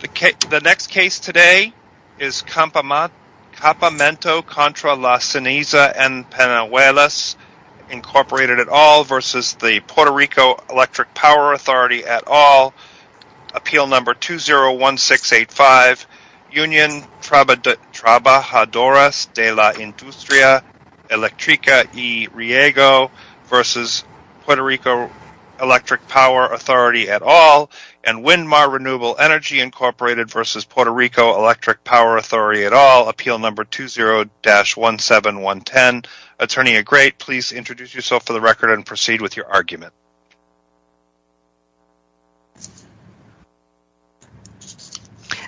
The next case today is Campamento Contra Las Cenizas and Penuelas, Incorporated et al. v. Puerto Rico Electric Power Authority et al. Appeal No. 201685, Union Trabajadoras de la Industria Electrica y Riego v. Puerto Rico Electric Power Authority et al. and Windmar Renewable Energy, Incorporated v. Puerto Rico Electric Power Authority et al. Appeal No. 20-17110. Attorney Agrate, please introduce yourself for the record and proceed with your argument.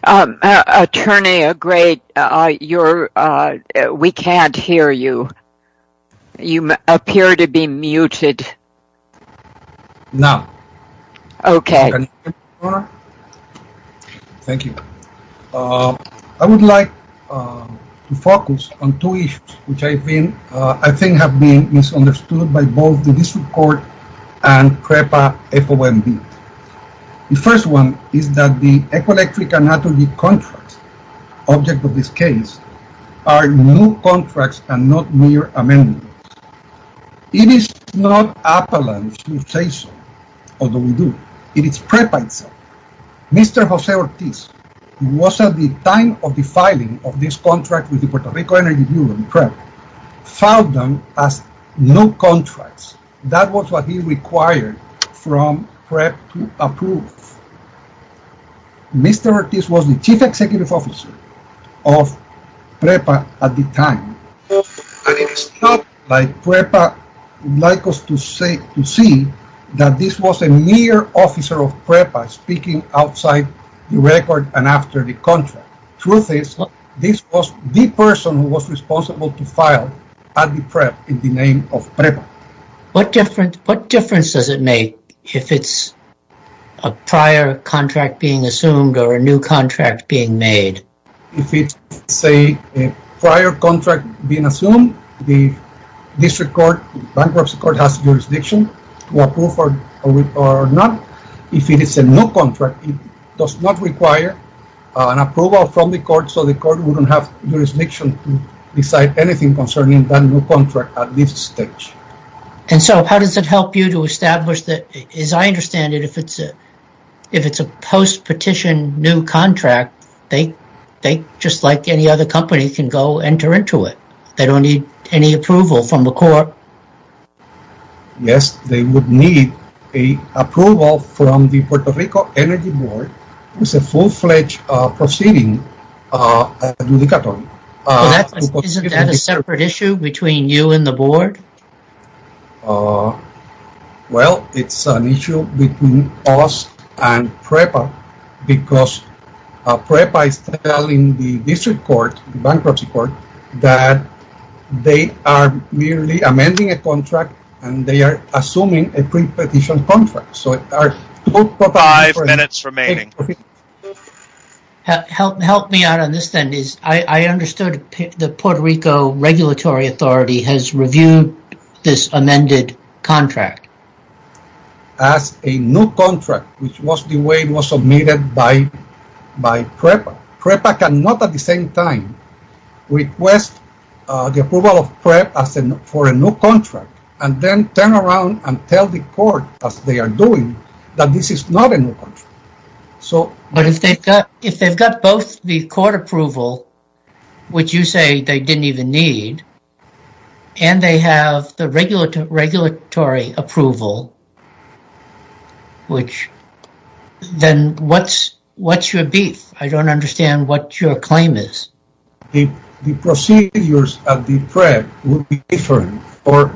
Attorney Agrate, we can't hear you. You appear to be muted. No. Okay. Thank you. I would like to focus on two issues which I think have been misunderstood by both the District Court and PREPA FOMB. The first one is that the ecoelectric and energy contracts, object of this case, are new contracts and not mere amendments. It is not Appalachian who say so, although we do. It is PREPA itself. Mr. Jose Ortiz, who was at the time of the filing of this contract with the Puerto Rico Energy Bureau and PREPA, filed them as new contracts. That was what he required from PREPA to approve. Mr. Ortiz was the chief executive officer of PREPA at the time. It is not like PREPA would like us to see that this was a mere officer of PREPA speaking outside the record and after the PREP in the name of PREPA. What difference does it make if it's a prior contract being assumed or a new contract being made? If it's a prior contract being assumed, the District Court, Bankruptcy Court has jurisdiction to approve or not. If it is a new contract, it does not require an approval from the court so we don't have jurisdiction to decide anything concerning that new contract at this stage. How does it help you to establish that, as I understand it, if it's a post-petition new contract, they, just like any other company, can go enter into it. They don't need any approval from the court. Yes, they would need approval from the Puerto Rico Energy Board. It's a full-fledged proceeding. Isn't that a separate issue between you and the board? Well, it's an issue between us and PREPA because PREPA is telling the District Court, Bankruptcy Court, that they are merely amending a contract and they are assuming a pre-petition contract. Help me out on this then. I understood that the Puerto Rico Regulatory Authority has reviewed this amended contract as a new contract, which was the way it was submitted by PREPA. PREPA cannot, at the same time, request the approval of PREP for a new contract. But if they've got both the court approval, which you say they didn't even need, and they have the regulatory approval, then what's your beef? I don't understand what your claim is. The procedures of the PREP would be different for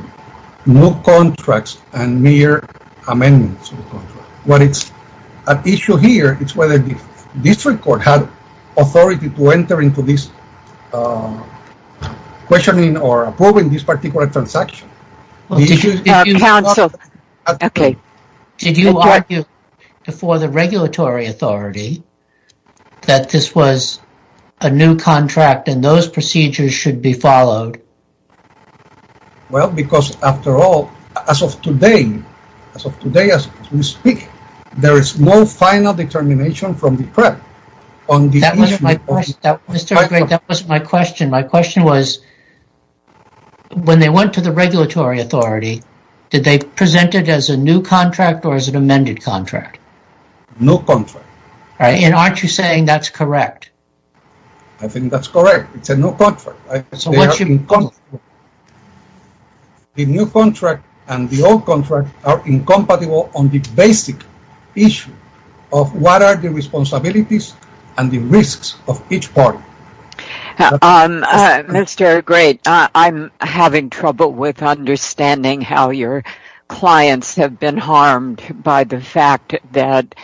new contracts and mere amendments. What is at issue here is whether the District Court had authority to enter into this questioning or approving this particular transaction. Did you argue before the regulatory authority that this was a new contract and those procedures should be followed? Well, because after all, as of today, as of today as we speak, there is no final determination from the PREP on this issue. That wasn't my question. My question was, when they went to the regulatory authority, did they present it as a new contract or as an amended contract? New contract. And aren't you saying that's correct? I think that's correct. It's a new contract. The new contract and the old contract are incompatible on the basic issue of what are the responsibilities and the risks of each party. Mr. Gray, I'm having trouble with understanding how your clients have been harmed by the fact that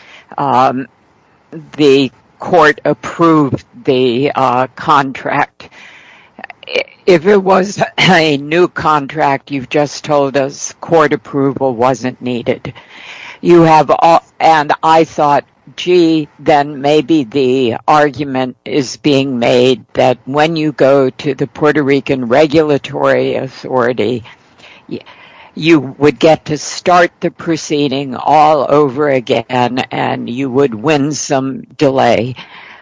the Court approved the contract. If it was a new contract, you've just told us approval wasn't needed. And I thought, gee, then maybe the argument is being made that when you go to the Puerto Rican regulatory authority, you would get to start the proceeding all over again and you would win some delay.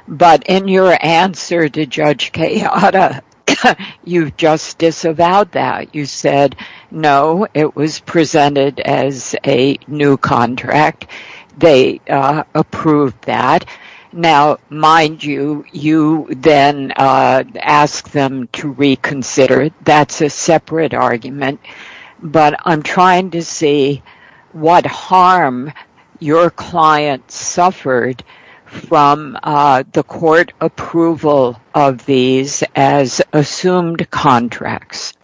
But in your answer to Judge Kayada, you've just disavowed that. You presented it as a new contract. They approved that. Now, mind you, you then asked them to reconsider. That's a separate argument. But I'm trying to see what harm your client suffered from the Court approval of these as assumed contracts.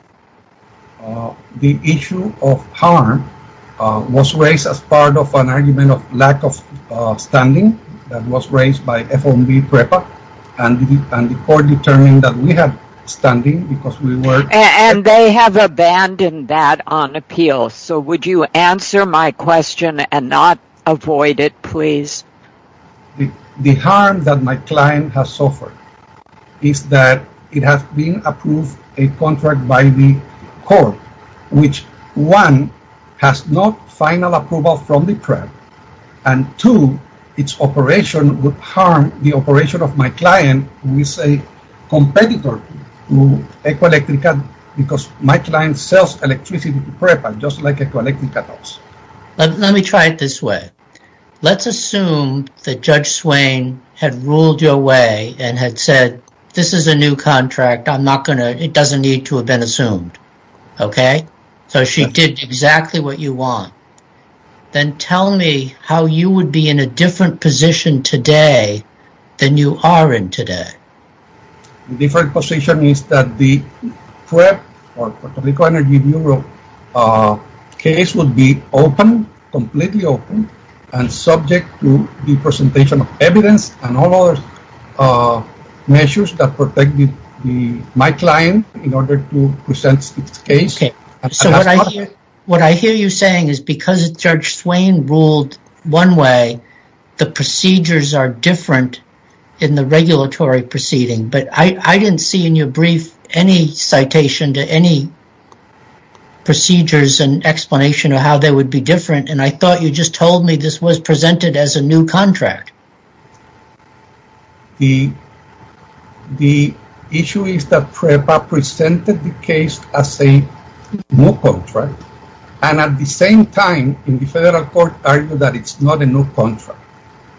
The issue of harm was raised as part of an argument of lack of standing that was raised by FOMB PREPA. And the Court determined that we had standing because we were... And they have abandoned that on appeal. So would you answer my question and not avoid it, please? The harm that my client has suffered is that it has been approved a contract by the Court, which, one, has no final approval from the PREP, and two, its operation would harm the operation of my client who is a competitor to EcoElectrica because my client sells electricity to PREPA just like Judge Swain had ruled your way and had said, this is a new contract. I'm not going to... It doesn't need to have been assumed. Okay? So she did exactly what you want. Then tell me how you would be in a different position today than you are in today. The different position is that the PREP or Puerto Rico Energy Bureau case would be open, completely open, and subject to the presentation of evidence and all other measures that protect my client in order to present its case. Okay. So what I hear you saying is because Judge Swain ruled one way, the procedures are different in the regulatory proceeding. But I didn't see in your brief any citation to any procedures and explanation of how they would be different, and I thought you just told me this was presented as a new contract. The issue is that PREPA presented the case as a new contract, and at the same time, in the Federal Court, argued that it's not a new contract,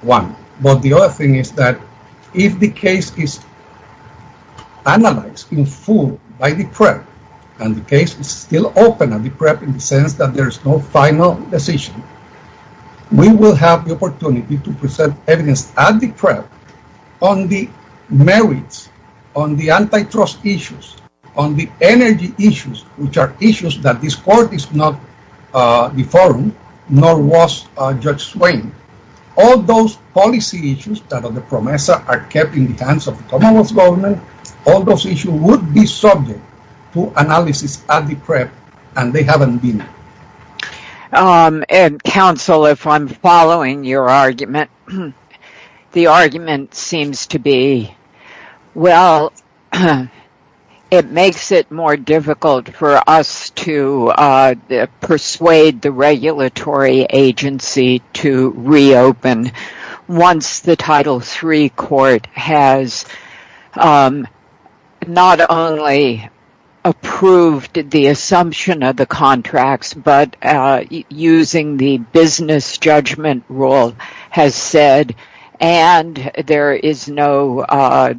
one. But the other thing is that if the case is analyzed in full by the PREP, and the case is still open at the PREP in the sense that there is no final decision, we will have the opportunity to present evidence at the PREP on the merits, on the antitrust issues, on the energy issues, which are issues that this court is not the forum, nor was Judge Swain. All those policy issues that are the PROMESA are kept in the hands of the Commonwealth Government. All those issues would be subject to analysis at the PREP, and they haven't been. Counsel, if I'm following your argument, the argument seems to be, well, it makes it more difficult for us to persuade the Regulatory Agency to reopen once the Title III Court has not only approved the assumption of the contracts, but using the business judgment rule has said, and there is no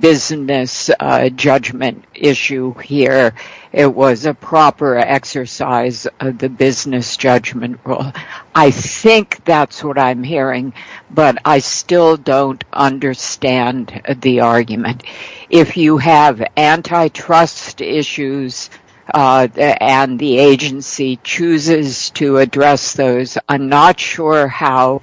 business judgment issue here. It was a proper exercise of the business judgment rule. I think that's what I'm hearing, but I still don't understand the argument. If you have antitrust issues and the agency chooses to address those, I'm not sure how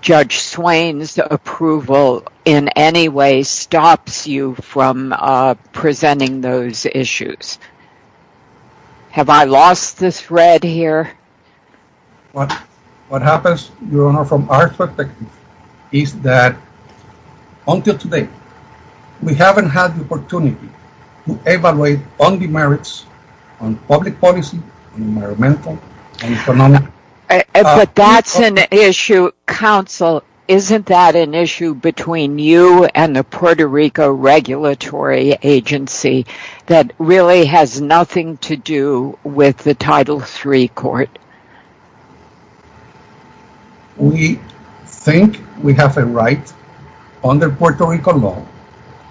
Judge Swain's approval in any way stops you from our perspective is that, until today, we haven't had the opportunity to evaluate on the merits, on public policy, environmental, and economic. But that's an issue, Counsel, isn't that an issue between you and the Puerto Rico Regulatory Agency that really has nothing to do with the Title III Court? We think we have a right under Puerto Rico law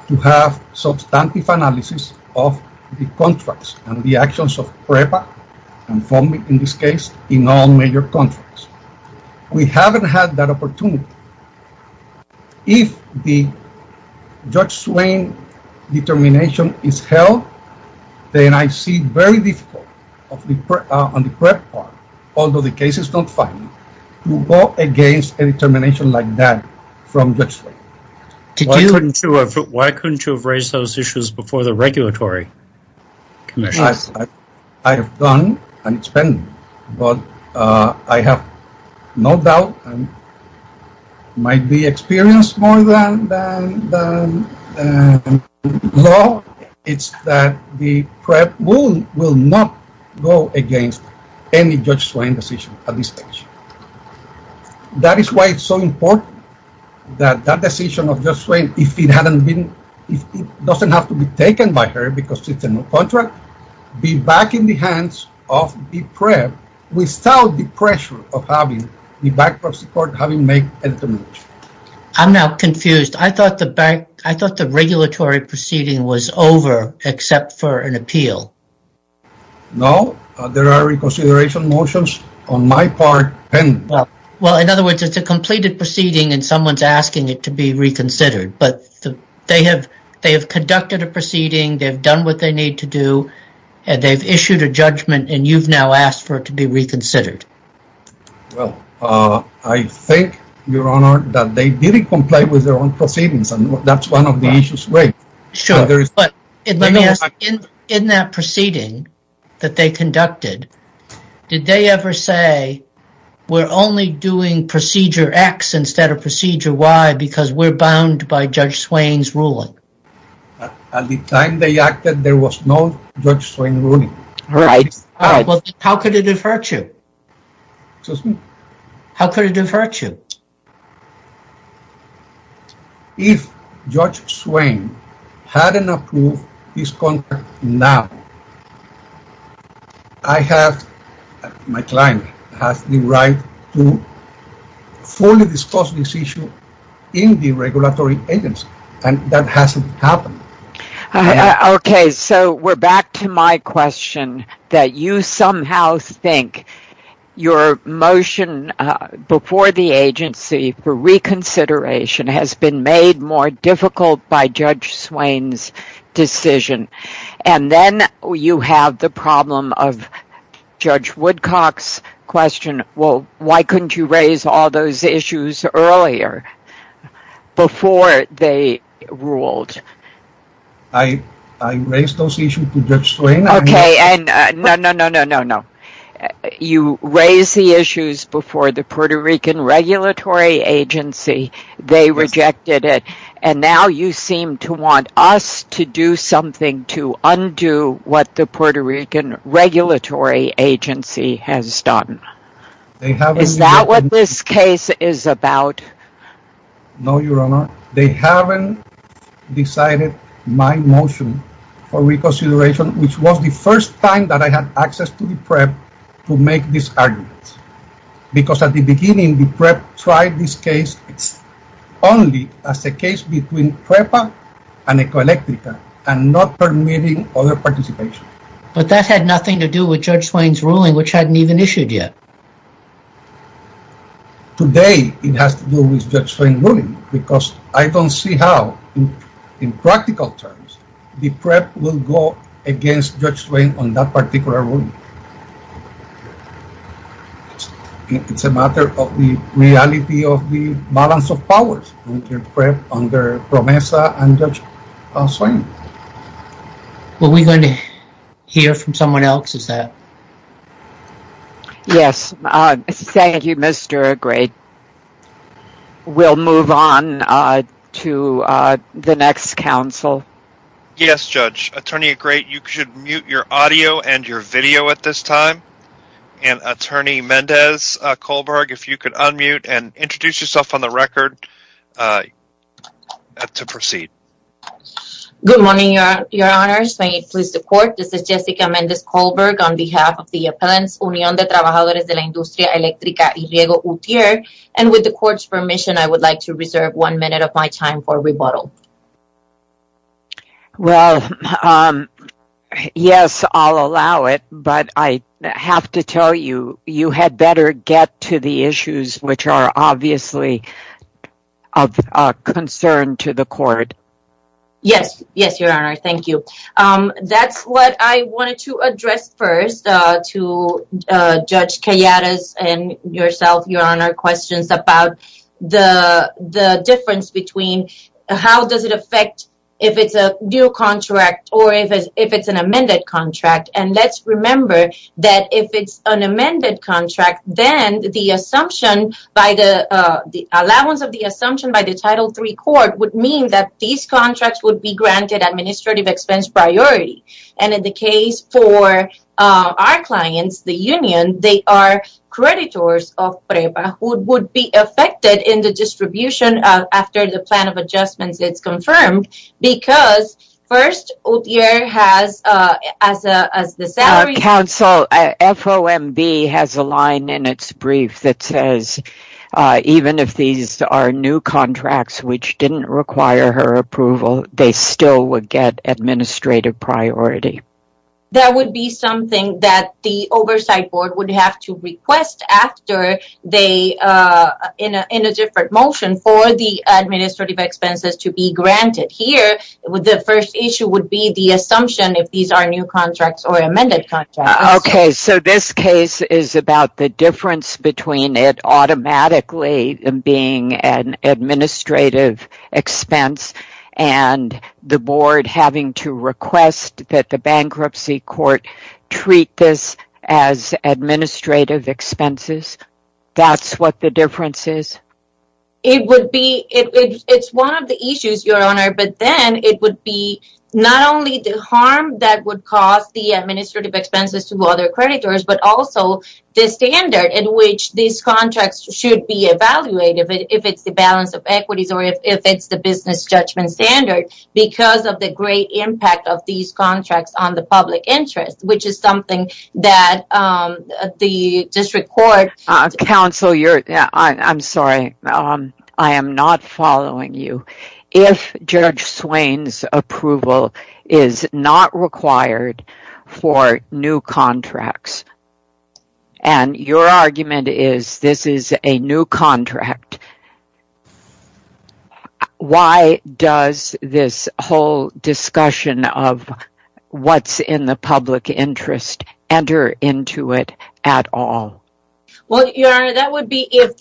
to have substantive analysis of the contracts and the actions of PREPA and FOMI in this case, in all major contracts. We haven't had that opportunity. If the Judge Swain determination is held, then I see very difficult on the PREP part, although the case is not final, to go against a determination like that from Judge Swain. Why couldn't you have raised those issues before the Regulatory Commission? I have done and it's been, but I have no doubt and might be experienced more than you. The law is that the PREP will not go against any Judge Swain decision at this stage. That is why it's so important that that decision of Judge Swain, if it doesn't have to be taken by her because it's a new contract, be back in the hands of the PREP without the pressure of having made a determination. I'm now confused. I thought the regulatory proceeding was over except for an appeal. No, there are reconsideration motions on my part. Well, in other words, it's a completed proceeding and someone's asking it to be reconsidered, but they have conducted a proceeding, they've done what they need to do, and they've issued a judgment and you've now asked for it to be reconsidered. Well, I think, Your Honor, that they didn't comply with their own proceedings and that's one of the issues raised. Sure, but let me ask, in that proceeding that they conducted, did they ever say, we're only doing Procedure X instead of Procedure Y because we're bound by Judge Swain's ruling? At the time they acted, there was no Judge Swain ruling. How could it have hurt you? If Judge Swain hadn't approved this contract now, my client has the right to fully discuss this issue in the regulatory agency and that hasn't happened. Okay, so we're back to my question that you somehow think your motion before the agency for reconsideration has been made more difficult by Judge Swain's decision and then you have the problem of Judge Woodcock's question, well, why couldn't you raise all those issues earlier before they ruled? I raised those issues to Judge Swain. Okay, and no, no, no, no, you raised the issues before the Puerto Rican regulatory agency, they rejected it, and now you seem to want us to do something to undo what the Puerto Rican regulatory agency has done. Is that what this case is about? No, Your Honor, they haven't decided my motion for reconsideration, which was the first time that I had access to the PREP to make this argument because at the beginning the PREP tried this case only as a case between PREPA and Ecoelectrica and not permitting other participation. But that had nothing to do with Judge Swain's ruling, which hadn't even issued yet. Today, it has to do with Judge Swain's ruling because I don't see how, in practical terms, the PREP will go against Judge Swain on that particular ruling. It's a matter of the reality of the balance of powers under PREP, under PROMESA, and Judge Swain. Are we going to hear from someone else, is that? Yes, thank you, Mr. Agrate. We'll move on to the next counsel. Yes, Judge. Attorney Agrate, you should mute your audio and your video at this time, and Attorney Mendez-Kohlberg, if you could unmute and introduce yourself on the record to proceed. Good morning, Your Honors. May it please the Court, this is Jessica Mendez-Kohlberg on behalf of the Appellants, Unión de Trabajadores de la Industria Eléctrica y Riego UTIER, and with the Court's permission, I would like to reserve one minute of my time for rebuttal. Well, yes, I'll allow it, but I have to tell you, you had better get to the issues which are obviously of concern to the Court. Yes, yes, Your Honor, thank you. That's what I wanted to address first to Judge Calladas and yourself, Your Honor, questions about the difference between how does it affect if it's a new contract or if it's an amended contract, and let's remember that if it's an amended contract, then the allowance of the assumption by the Title III Court would mean that these contracts would be granted administrative expense priority, and in the case for our clients, the union, they are creditors of PREPA who would be affected in the distribution after the plan of adjustments is confirmed because first, UTIER has, as the FOMB has a line in its brief that says even if these are new contracts which didn't require her approval, they still would get administrative priority. That would be something that the Oversight Board would have to request after they, in a different motion, for the administrative expenses to be granted. Here, the first issue would be the assumption if these are new contracts or amended contracts. Okay, so this case is about the difference between it automatically being an administrative expense and the Board having to request that the bankruptcy court treat this as administrative expenses. That's what the difference is? It would be, it's one of the administrative expenses to other creditors, but also the standard in which these contracts should be evaluated if it's the balance of equities or if it's the business judgment standard because of the great impact of these contracts on the public interest, which is something that the District Court... Counsel, I'm sorry, I am not following you. If Judge Swain's approval is not required for new contracts, and your argument is this is a new contract, why does this whole discussion of what's in the public interest enter into it at all? Well, Your Honor, that would be if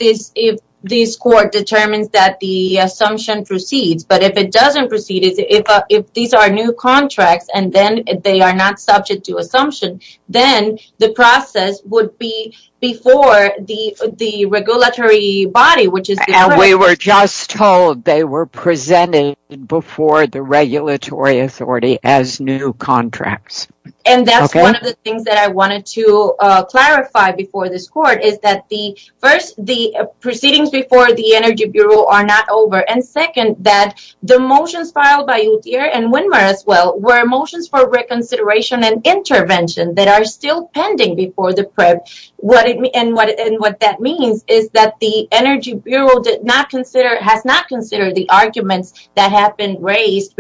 this Court determines that the assumption proceeds, but if it these are new contracts, and then they are not subject to assumption, then the process would be before the regulatory body, which is... And we were just told they were presented before the regulatory authority as new contracts. And that's one of the things that I wanted to clarify before this Court, is that first, the proceedings before the Energy Bureau are not over, and second, that the motions filed by Uthier and Windmer as well were motions for reconsideration and intervention that are still pending before the PREP. And what that means is that the Energy Bureau has not considered the arguments that have been raised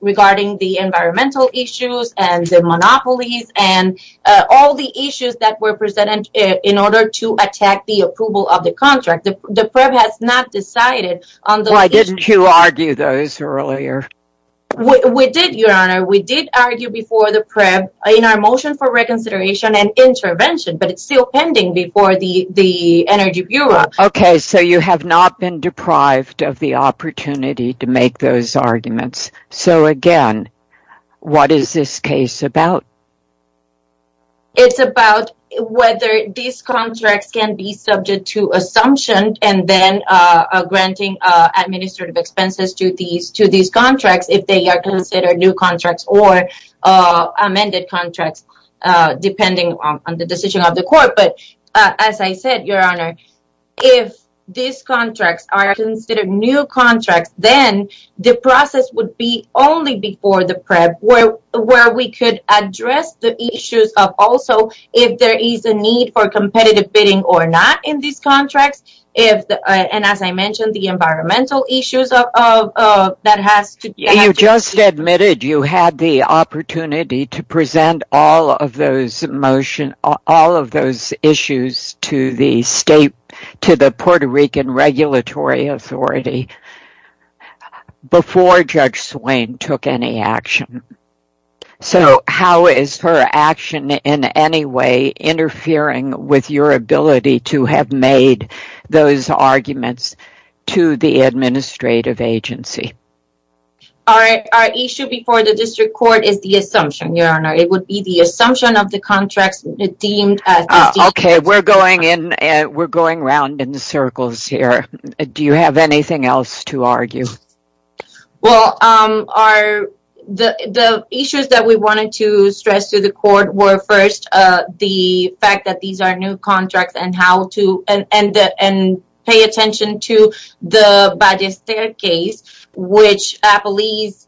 regarding the environmental issues and the monopolies and all the issues that were presented in order to attack the approval of the contract. The PREP has not decided on those issues. Why didn't you argue those earlier? We did, Your Honor. We did argue before the PREP in our motion for reconsideration and intervention, but it's still pending before the Energy Bureau. Okay, so you have not been deprived of the opportunity to make those arguments. So again, what is this case about? It's about whether these contracts can be subject to assumption and then granting administrative expenses to these contracts if they are considered new contracts or amended contracts, depending on the decision of the Court. But as I said, Your Honor, if these contracts are considered new contracts, then the process would be only before the PREP where we could address the issues of also if there is a need for competitive bidding or not in these contracts. And as I mentioned, the environmental issues that has to be addressed. You just admitted you had the opportunity to present all of those issues to the Puerto Rican Regulatory Authority before Judge Swain took any action. So how is her action in any way interfering with your ability to have made those arguments to the administrative agency? Our issue before the District Court is the assumption, Your Honor. It would be the Do you have anything else to argue? Well, the issues that we wanted to stress to the Court were first the fact that these are new contracts and pay attention to the Ballester case, which I believe is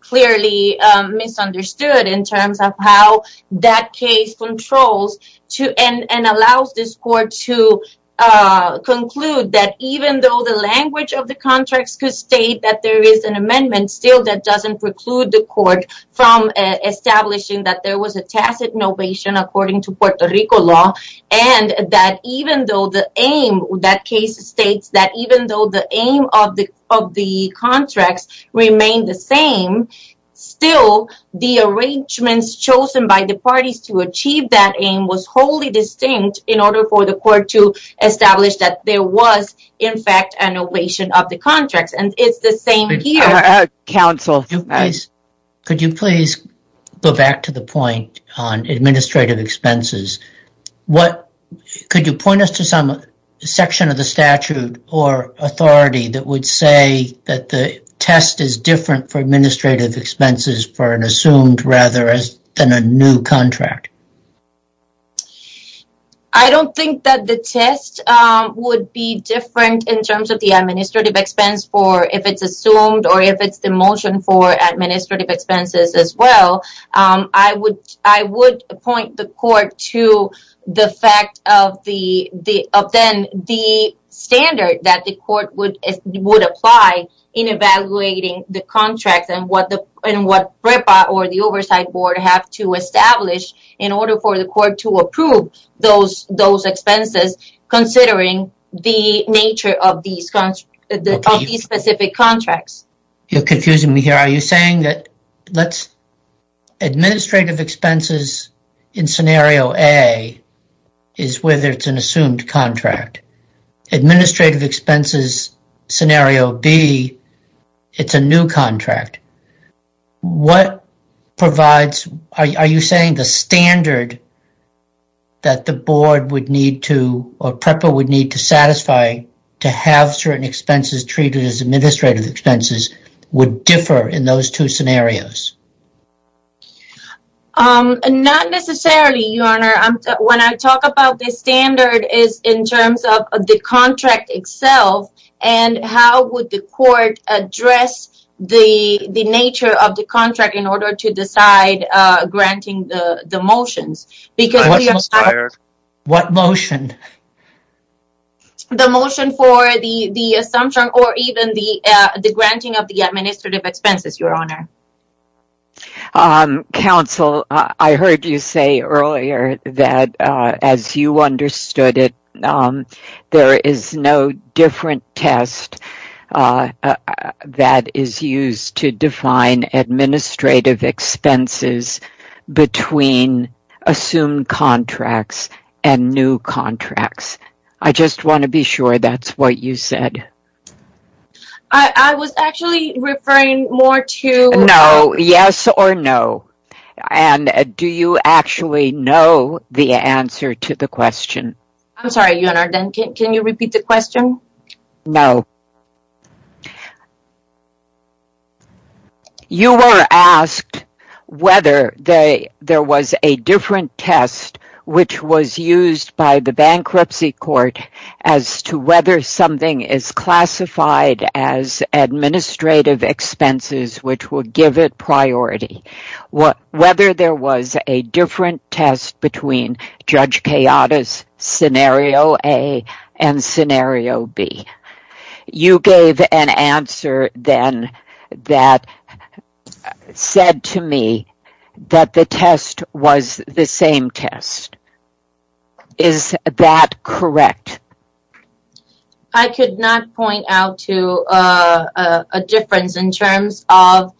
clearly misunderstood in terms of how that case controls and allows this Court to conclude that even though the language of the contracts could state that there is an amendment still that doesn't preclude the Court from establishing that there was a tacit novation according to Puerto Rico law and that even though the aim of that case states that even though the aim of the of the contracts remain the same, still the arrangements chosen by the parties to achieve that aim was wholly distinct in order for the Court to establish that there was in fact a novation of the contracts. Could you please go back to the point on administrative expenses? Could you point us some section of the statute or authority that would say that the test is different for administrative expenses for an assumed rather than a new contract? I don't think that the test would be different in terms of the administrative expense for if it's assumed or if it's the motion for administrative expenses as well. I would point the Court to the fact of then the standard that the Court would apply in evaluating the contracts and what PREPA or the Oversight Board have to establish in order for the Court to approve those expenses considering the nature of these specific contracts. You're confusing me here. Are you saying that let's administrative expenses in scenario A is whether it's an assumed contract? Administrative expenses scenario B, it's a new contract. What provides, are you saying the standard that the board would need to or PREPA would need to satisfy to have certain expenses treated as administrative expenses would differ in those two scenarios? Not necessarily, Your Honor. When I talk about the standard is in terms of the contract itself and how would the Court address the nature of the motions? What motion? The motion for the assumption or even the granting of the administrative expenses, Your Honor. Counsel, I heard you say earlier that as you understood it there is no different test that is used to define administrative expenses between assumed contracts and new contracts. I just want to be sure that's what you said. I was actually referring more to... No, yes or no. Do you actually know the answer to the question? I'm sorry, Your Honor. Can you repeat the question? No. You were asked whether there was a different test which was used by the bankruptcy court as to whether something is classified as administrative expenses which would give it You gave an answer then that said to me that the test was the same test. Is that correct? I could not point out to a difference in terms of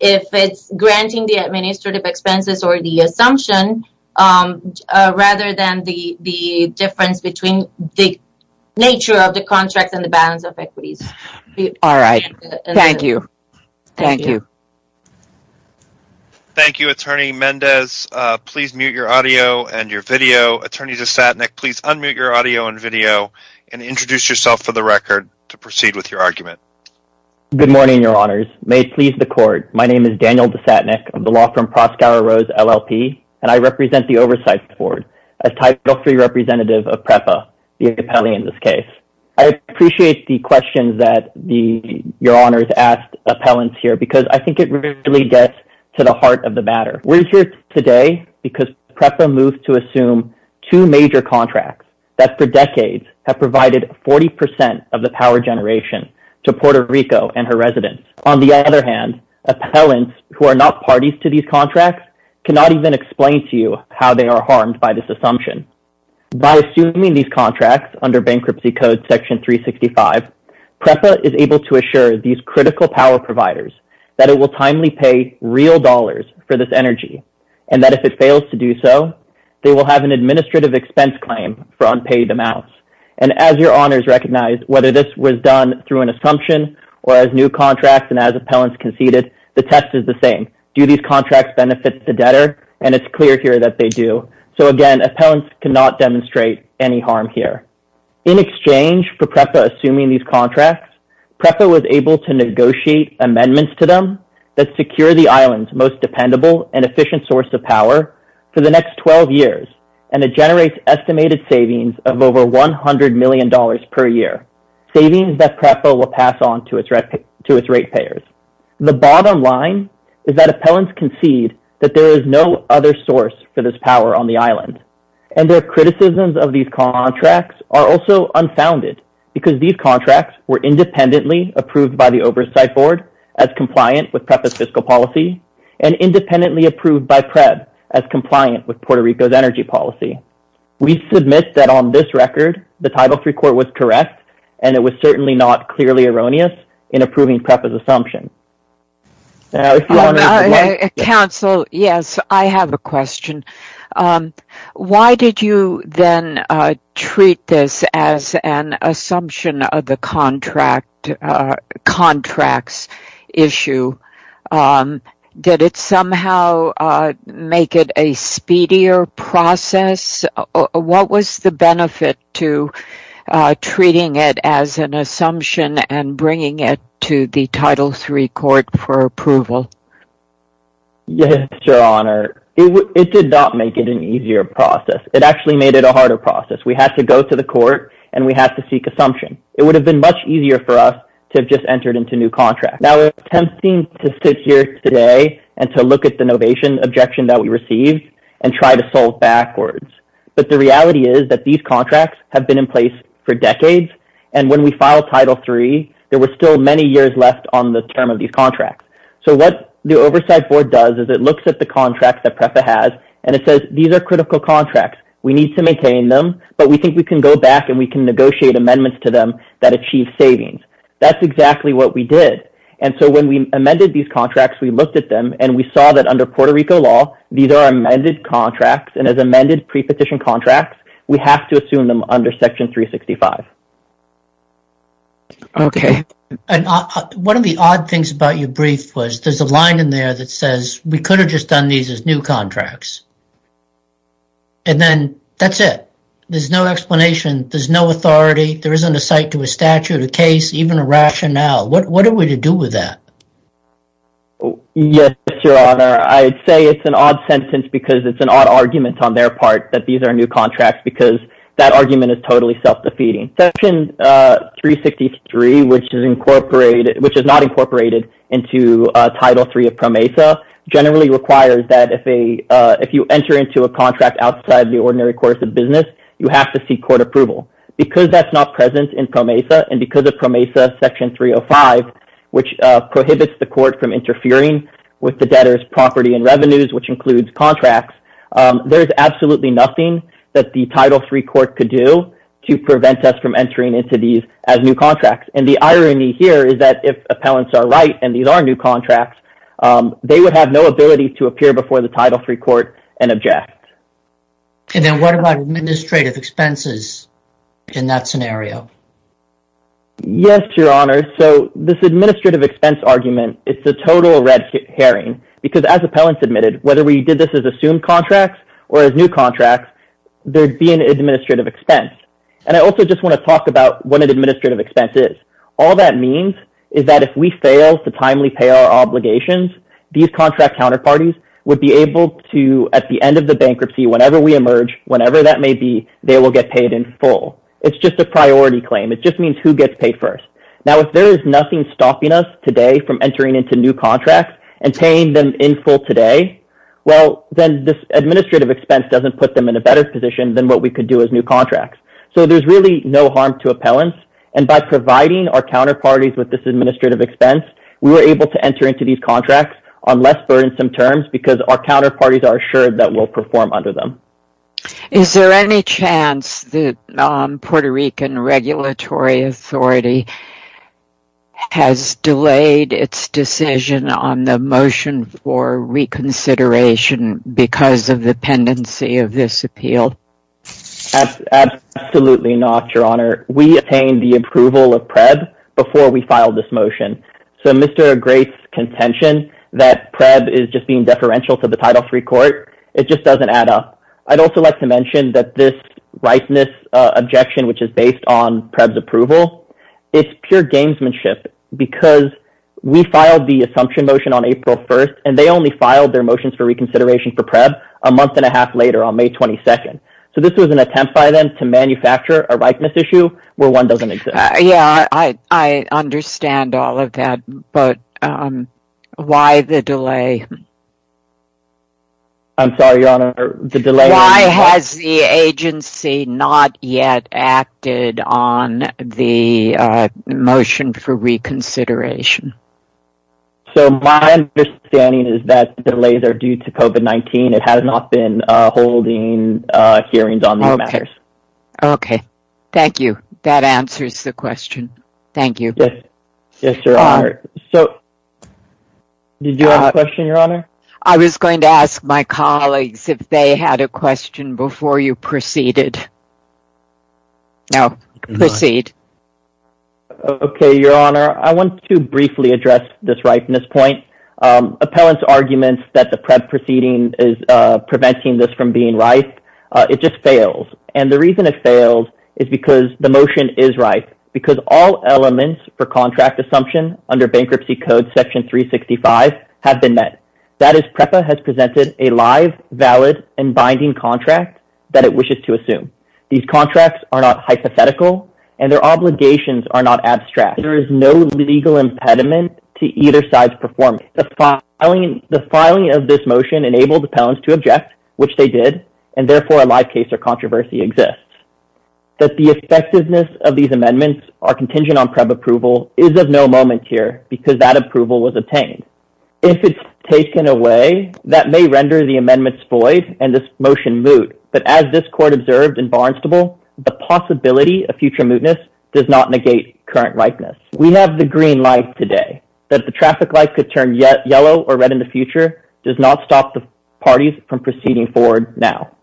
if it's granting the administrative expenses or the assumption rather than the difference between the nature of the contract and the balance of equities. All right. Thank you. Thank you. Thank you, Attorney Mendez. Please mute your audio and your video. Attorney DeSatnick, please unmute your audio and video and introduce yourself for the record to proceed with your argument. Good morning, Your Honors. May it please the court. My name is Daniel DeSatnick of the law firm Proskauer Rose LLP, and I represent the Oversight Board as Title III representative of PREPA, the appellee in this case. I appreciate the questions that Your Honors asked appellants here because I think it really gets to the heart of the matter. We're here today because PREPA moved to assume two major contracts that for decades have provided 40 percent of the power generation to Puerto Rico and her residents. On the other hand, appellants who are not parties to these contracts cannot even explain to you how they are harmed by this assumption. By assuming these contracts under Bankruptcy Code Section 365, PREPA is able to assure these critical power providers that it will timely pay real dollars for this energy and that if it fails to do so, they will have an administrative expense claim for unpaid amounts. And as Your Honors recognize, whether this was done through an assumption or as new contracts and as appellants conceded, the test is the same. Do these contracts benefit the debtor? And it's clear here that they do. So again, appellants cannot demonstrate any harm here. In exchange for PREPA assuming these contracts, PREPA was able to negotiate amendments to them that secure the island's most dependable and efficient source of power for the next 12 years, and it generates estimated savings of over $100 million per year, savings that PREPA will pass on to its ratepayers. The bottom line is that appellants concede that there is no other source for this power on the island. And their criticisms of these contracts are also unfounded because these contracts were independently approved by the Oversight Board as compliant with PREPA's Puerto Rico's energy policy. We submit that on this record, the Title III Court was correct, and it was certainly not clearly erroneous in approving PREPA's assumption. Counsel, yes, I have a question. Why did you then treat this as an assumption of the Title III contracts issue? Did it somehow make it a speedier process? What was the benefit to treating it as an assumption and bringing it to the Title III Court for approval? Yes, Your Honor, it did not make it an easier process. It actually made it a harder process. We have to go to the court and we have to seek assumption. It would have been much easier for us to have just entered into new contracts. Now, it's tempting to sit here today and to look at the novation objection that we received and try to solve backwards. But the reality is that these contracts have been in place for decades, and when we filed Title III, there were still many years left on the term of these contracts. So, what the Oversight Board does is it looks at the contracts that PREPA has and it says, these are critical contracts. We need to maintain them, but we think we can go back and we can negotiate amendments to them that achieve savings. That's exactly what we did. And so, when we amended these contracts, we looked at them and we saw that under Puerto Rico law, these are amended contracts, and as amended pre-petition contracts, we have to assume them under Section 365. Okay, and one of the odd things about your brief was there's a line in there that we could have just done these as new contracts. And then, that's it. There's no explanation. There's no authority. There isn't a site to a statute, a case, even a rationale. What are we to do with that? Yes, Your Honor. I'd say it's an odd sentence because it's an odd argument on their part that these are new contracts because that argument is totally self-defeating. Section 363, which is not incorporated into Title III of PROMESA, generally requires that if you enter into a contract outside the ordinary course of business, you have to seek court approval. Because that's not present in PROMESA and because of PROMESA Section 305, which prohibits the court from interfering with the debtor's property and revenues, which includes contracts, there's as new contracts. And the irony here is that if appellants are right and these are new contracts, they would have no ability to appear before the Title III court and object. And then, what about administrative expenses in that scenario? Yes, Your Honor. So, this administrative expense argument, it's a total red herring because as appellants admitted, whether we did this as assumed contracts or as new contracts, there'd be an administrative expense. And I also just want to talk about what an administrative expense is. All that means is that if we fail to timely pay our obligations, these contract counterparties would be able to, at the end of the bankruptcy, whenever we emerge, whenever that may be, they will get paid in full. It's just a priority claim. It just means who gets paid first. Now, if there is nothing stopping us today from entering into new contracts and paying them in full today, well, then this administrative expense doesn't put them in a better position than what we could do as new contracts. So, there's really no harm to appellants. And by providing our counterparties with this administrative expense, we were able to enter into these contracts on less burdensome terms because our counterparties are assured that we'll perform under them. Is there any chance that Puerto Rican Regulatory Authority has delayed its decision on the motion for reconsideration because of the pendency of this appeal? Absolutely not, Your Honor. We obtained the approval of PREB before we filed this motion. So, Mr. Gray's contention that PREB is just being deferential to the Title III Court, it just doesn't add up. I'd also like to mention that this rightness objection, which is based on its pure gamesmanship, because we filed the assumption motion on April 1st, and they only filed their motions for reconsideration for PREB a month and a half later on May 22nd. So, this was an attempt by them to manufacture a rightness issue where one doesn't exist. Yeah, I understand all of that, but why the delay? I'm sorry, Your Honor, the delay? Why has the agency not yet acted on the motion for reconsideration? So, my understanding is that delays are due to COVID-19. It has not been holding hearings on these matters. Okay, thank you. That answers the question. Thank you. Yes, Your Honor. So, did you have a question, Your Honor? I was going to ask my colleagues if they had a question before you proceeded. No, proceed. Okay, Your Honor, I want to briefly address this rightness point. Appellant's arguments that the PREB proceeding is preventing this from being right, it just fails, and the reason it fails is because the motion is right, because all elements for contract assumption under Bankruptcy Section 365 have been met. That is PREPA has presented a live, valid, and binding contract that it wishes to assume. These contracts are not hypothetical, and their obligations are not abstract. There is no legal impediment to either side's performance. The filing of this motion enabled appellants to object, which they did, and therefore a live case or controversy exists. That the effectiveness of these amendments are contingent on PREB approval is of no moment here because that approval was obtained. If it's taken away, that may render the amendments void and this motion moot, but as this Court observed in Barnstable, the possibility of future mootness does not negate current rightness. We have the green light today that the traffic light could turn yellow or red in the future does not stop the parties from proceeding forward now.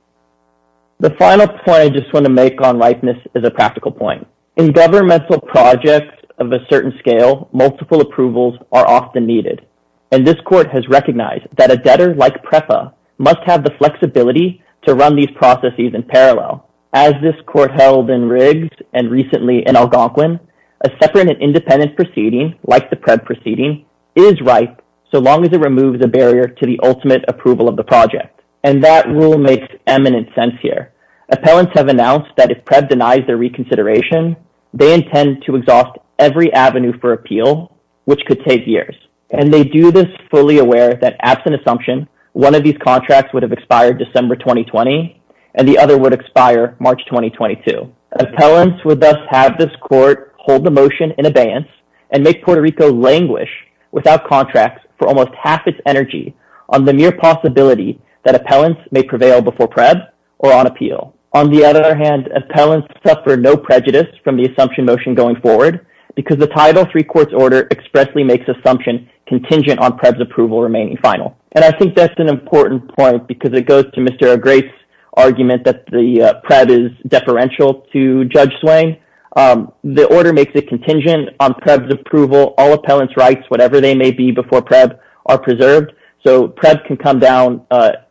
The final point I just want to make on rightness is a practical point. In governmental projects of a certain scale, multiple approvals are often needed, and this Court has recognized that a debtor like PREPA must have the flexibility to run these processes in parallel. As this Court held in Riggs and recently in Algonquin, a separate and independent proceeding like the PREB proceeding is ripe so long as it removes a barrier to the ultimate approval of the project, and that rule makes eminent sense here. Appellants have announced that if PREB denies their reconsideration, they intend to exhaust every avenue for appeal, which could take years, and they do this fully aware that absent assumption, one of these contracts would have expired December 2020 and the other would expire March 2022. Appellants would thus have this Court hold the motion in abeyance and make Puerto Rico languish without contracts for almost half its energy on the mere possibility that appellants may prevail before PREB or on appeal. On the other hand, appellants suffer no prejudice from the assumption motion going forward because the Title III Court's order expressly makes assumption contingent on PREB's approval remaining final, and I think that's an important point because it goes to Mr. O'Grace's argument that the PREB is deferential to Judge Swain. The order makes it contingent on PREB's approval. All appellants' rights, whatever they may be before PREB, are preserved, so PREB can come down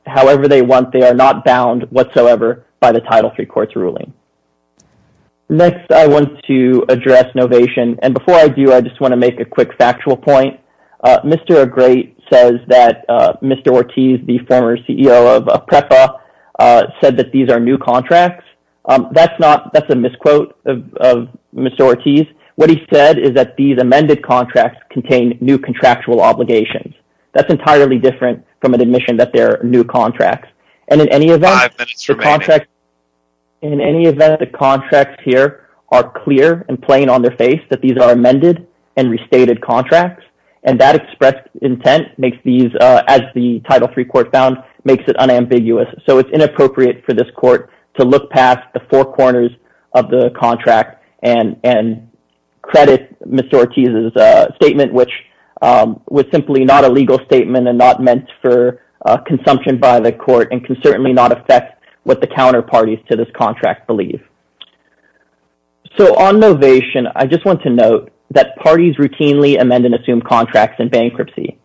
however they are not bound whatsoever by the Title III Court's ruling. Next, I want to address novation, and before I do, I just want to make a quick factual point. Mr. O'Grace says that Mr. Ortiz, the former CEO of PREPA, said that these are new contracts. That's a misquote of Mr. Ortiz. What he said is that these amended contracts contain new contractual obligations. That's a misquote of Mr. Ortiz. In any event, the contracts here are clear and plain on their face that these are amended and restated contracts, and that expressed intent makes these, as the Title III Court found, makes it unambiguous, so it's inappropriate for this court to look past the four corners of the contract and credit Mr. Ortiz's statement, which was simply not a legal statement and not meant for consumption by the court and certainly not affect what the counterparties to this contract believe. So, on novation, I just want to note that parties routinely amend and assume contracts in bankruptcy.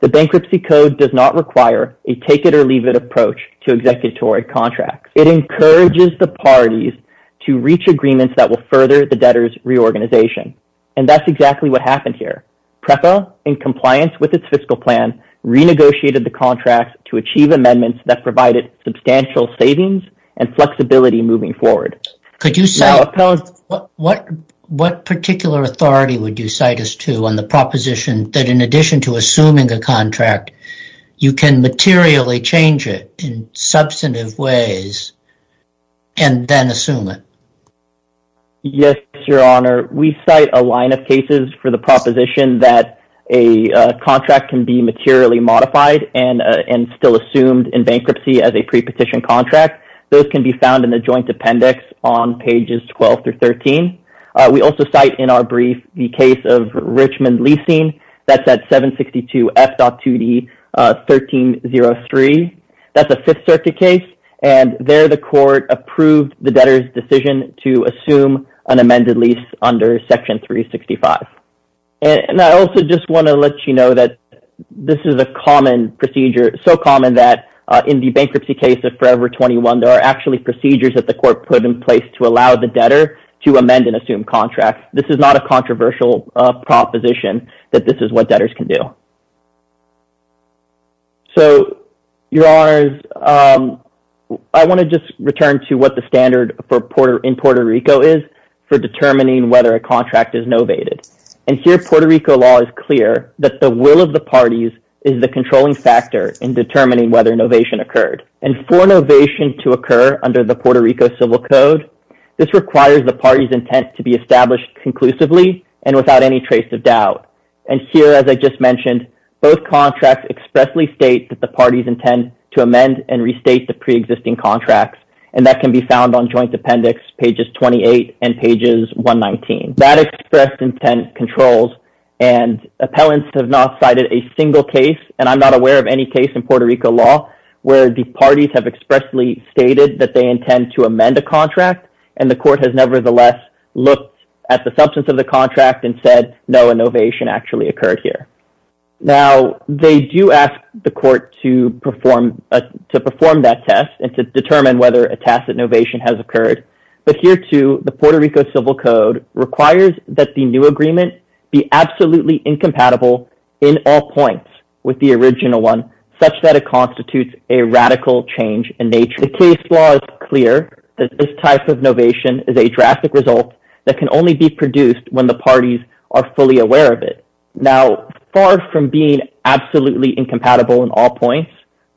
The Bankruptcy Code does not require a take-it-or-leave-it approach to executory contracts. It encourages the parties to reach agreements that will further the debtor's reorganization, and that's exactly what happened here. PREPA, in compliance with its fiscal plan, renegotiated the contracts to achieve amendments that provided substantial savings and flexibility moving forward. Could you say what particular authority would you cite us to on the proposition that in addition to assuming a contract, you can materially change it in substantive ways and then assume it? Yes, Your Honor. We cite a line of cases for the proposition that a contract can be materially modified and still assumed in bankruptcy as a pre-petition contract. Those can be found in the Joint Appendix on pages 12 through 13. We also cite in our brief the case of Richmond Leasing. That's at 762 F.2D 1303. That's a Fifth Circuit case, and there the court approved the debtor's decision to assume an amended lease under Section 365. And I also just want to let you know that this is a common procedure, so common that in the bankruptcy case of Forever 21, there are actually procedures that the court put in place to allow the debtor to amend and assume contracts. This is not a controversial proposition that this is what debtors can do. So, Your Honors, I want to just return to what standard in Puerto Rico is for determining whether a contract is novated. And here, Puerto Rico law is clear that the will of the parties is the controlling factor in determining whether novation occurred. And for novation to occur under the Puerto Rico Civil Code, this requires the party's intent to be established conclusively and without any trace of doubt. And here, as I just mentioned, both contracts expressly state that the parties intend to amend and restate the pre-existing contracts, and that can be found on Joint Appendix pages 28 and pages 119. That expressed intent controls, and appellants have not cited a single case, and I'm not aware of any case in Puerto Rico law where the parties have expressly stated that they intend to amend a contract, and the court has nevertheless looked at the substance of the contract and said, no, a novation actually occurred here. Now, they do ask the court to to perform that test and to determine whether a tacit novation has occurred. But here, too, the Puerto Rico Civil Code requires that the new agreement be absolutely incompatible in all points with the original one, such that it constitutes a radical change in nature. The case law is clear that this type of novation is a drastic result that can only be produced when the parties are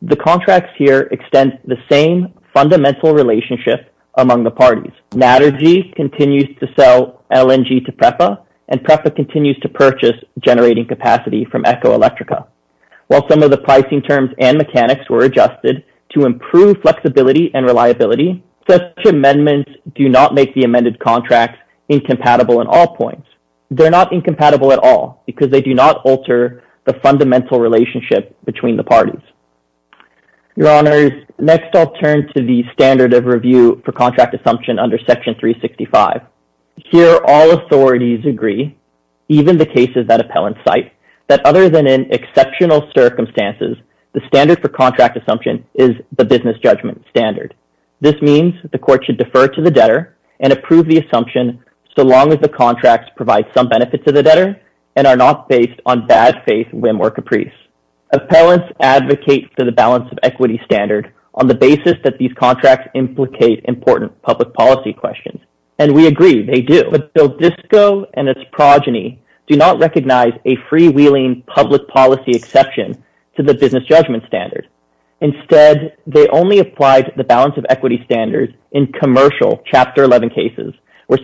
The contracts here extend the same fundamental relationship among the parties. Natergy continues to sell LNG to PREPA, and PREPA continues to purchase generating capacity from Ecoelectrica. While some of the pricing terms and mechanics were adjusted to improve flexibility and reliability, such amendments do not make the amended contracts incompatible in all points. They're not incompatible at all, because they do not alter the fundamental relationship between the parties. Your Honors, next I'll turn to the standard of review for contract assumption under Section 365. Here, all authorities agree, even the cases that appellants cite, that other than in exceptional circumstances, the standard for contract assumption is the business judgment standard. This means the court should defer to the debtor and approve the assumption so long as the contracts provide some benefit to the debtor and are not based on bad faith, whim, or caprice. Appellants advocate for the balance of equity standard on the basis that these contracts implicate important public policy questions, and we agree they do. But BILDISCO and its progeny do not recognize a freewheeling public policy exception to the business judgment standard. Instead, they only applied the balance of equity standards in commercial Chapter 11 cases, where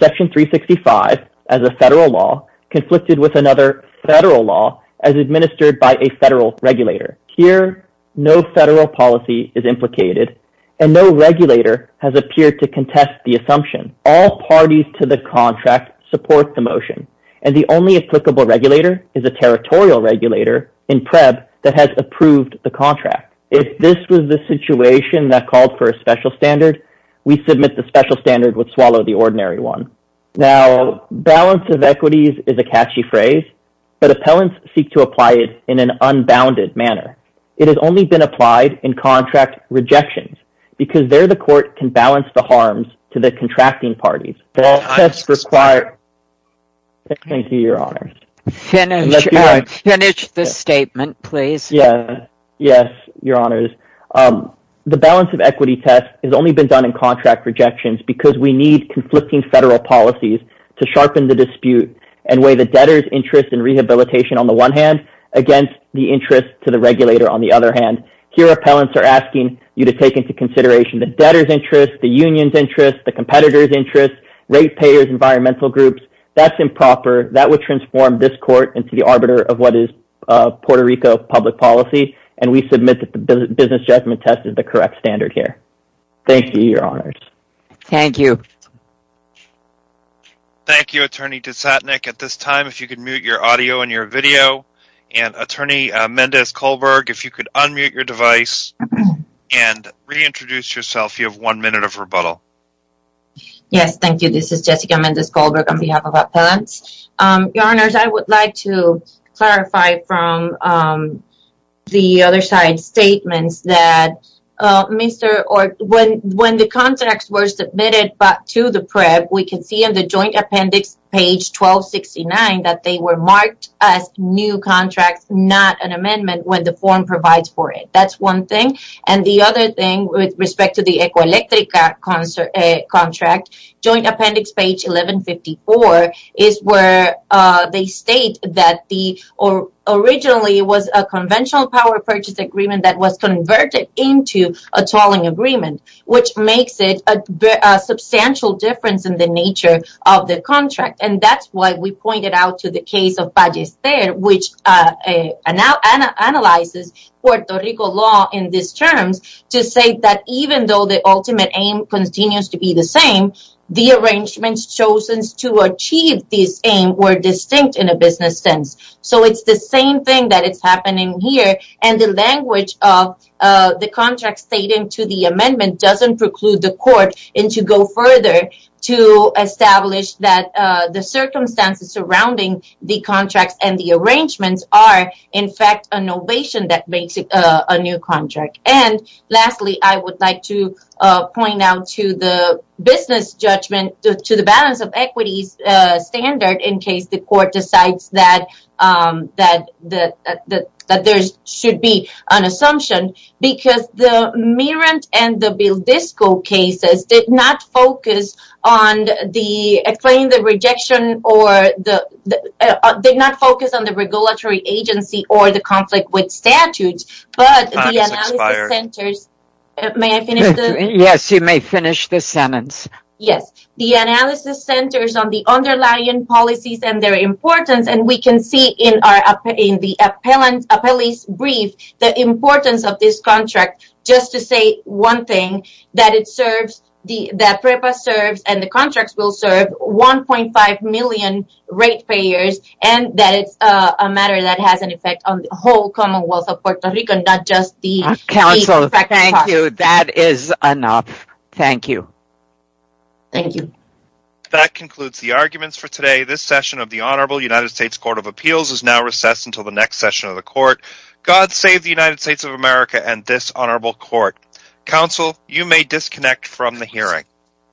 Here, no federal policy is implicated, and no regulator has appeared to contest the assumption. All parties to the contract support the motion, and the only applicable regulator is a territorial regulator in PREB that has approved the contract. If this was the situation that called for a special standard, we submit the special standard would swallow the ordinary one. Now, balance of equities is a catchy phrase, but appellants seek to apply it in an unbounded manner. It has only been applied in contract rejections, because there the court can balance the harms to the contracting parties. The balance of equity test has only been done in contract rejections, because we need conflicting federal policies to sharpen the dispute and weigh the debtor's interest in rehabilitation on the one hand against the interest to the regulator on the other hand. Here, appellants are asking you to take into consideration the debtor's interest, the union's interest, the competitor's interest, rate payers, environmental groups. That's improper. That would transform this court into the arbiter of what is Puerto Rico public policy, and we submit that the business judgment test is the correct standard here. Thank you, your honors. Thank you. Thank you, attorney Disatnik. At this time, if you could mute your audio and your video, and attorney Mendez-Kohlberg, if you could unmute your device and reintroduce yourself, you have one minute of rebuttal. Yes, thank you. This is Jessica Mendez-Kohlberg on behalf of appellants. Your honors, I would like to clarify from the other side statements that when the contracts were submitted to the PREP, we can see on the joint appendix page 1269 that they were marked as new contracts, not an amendment when the form provides for it. That's one thing. The other thing with respect to the Ecoelectrica contract, joint appendix page 1154, is where they state that originally it was a conventional power purchase agreement that was converted into a tolling agreement, which makes it a substantial difference in the nature of the contract. That's why we pointed out to the case of Pallester, which analyzes Puerto Rico law in these terms, to say that even though the ultimate aim continues to be the same, the arrangements chosen to achieve this aim were distinct in a business sense. It's the same thing that is happening here, and the language of the contract stating to the amendment doesn't preclude the court to go further to establish that the circumstances surrounding the contracts and the arrangements are, in fact, an ovation that makes it a new business judgment to the balance of equities standard in case the court decides that there should be an assumption, because the Merant and the Vildisco cases did not focus on the Yes, the analysis centers on the underlying policies and their importance, and we can see in the appellee's brief the importance of this contract, just to say one thing, that PREPA serves and the contracts will serve 1.5 million rate payers, and that it's a matter that has an effect on the whole commonwealth of Puerto Rico, not just the effect of the cost. That concludes the arguments for today. This session of the Honorable United States Court of Appeals is now recessed until the next session of the Court. God save the United States of America and this Honorable Court. Counsel, you may disconnect from the hearing.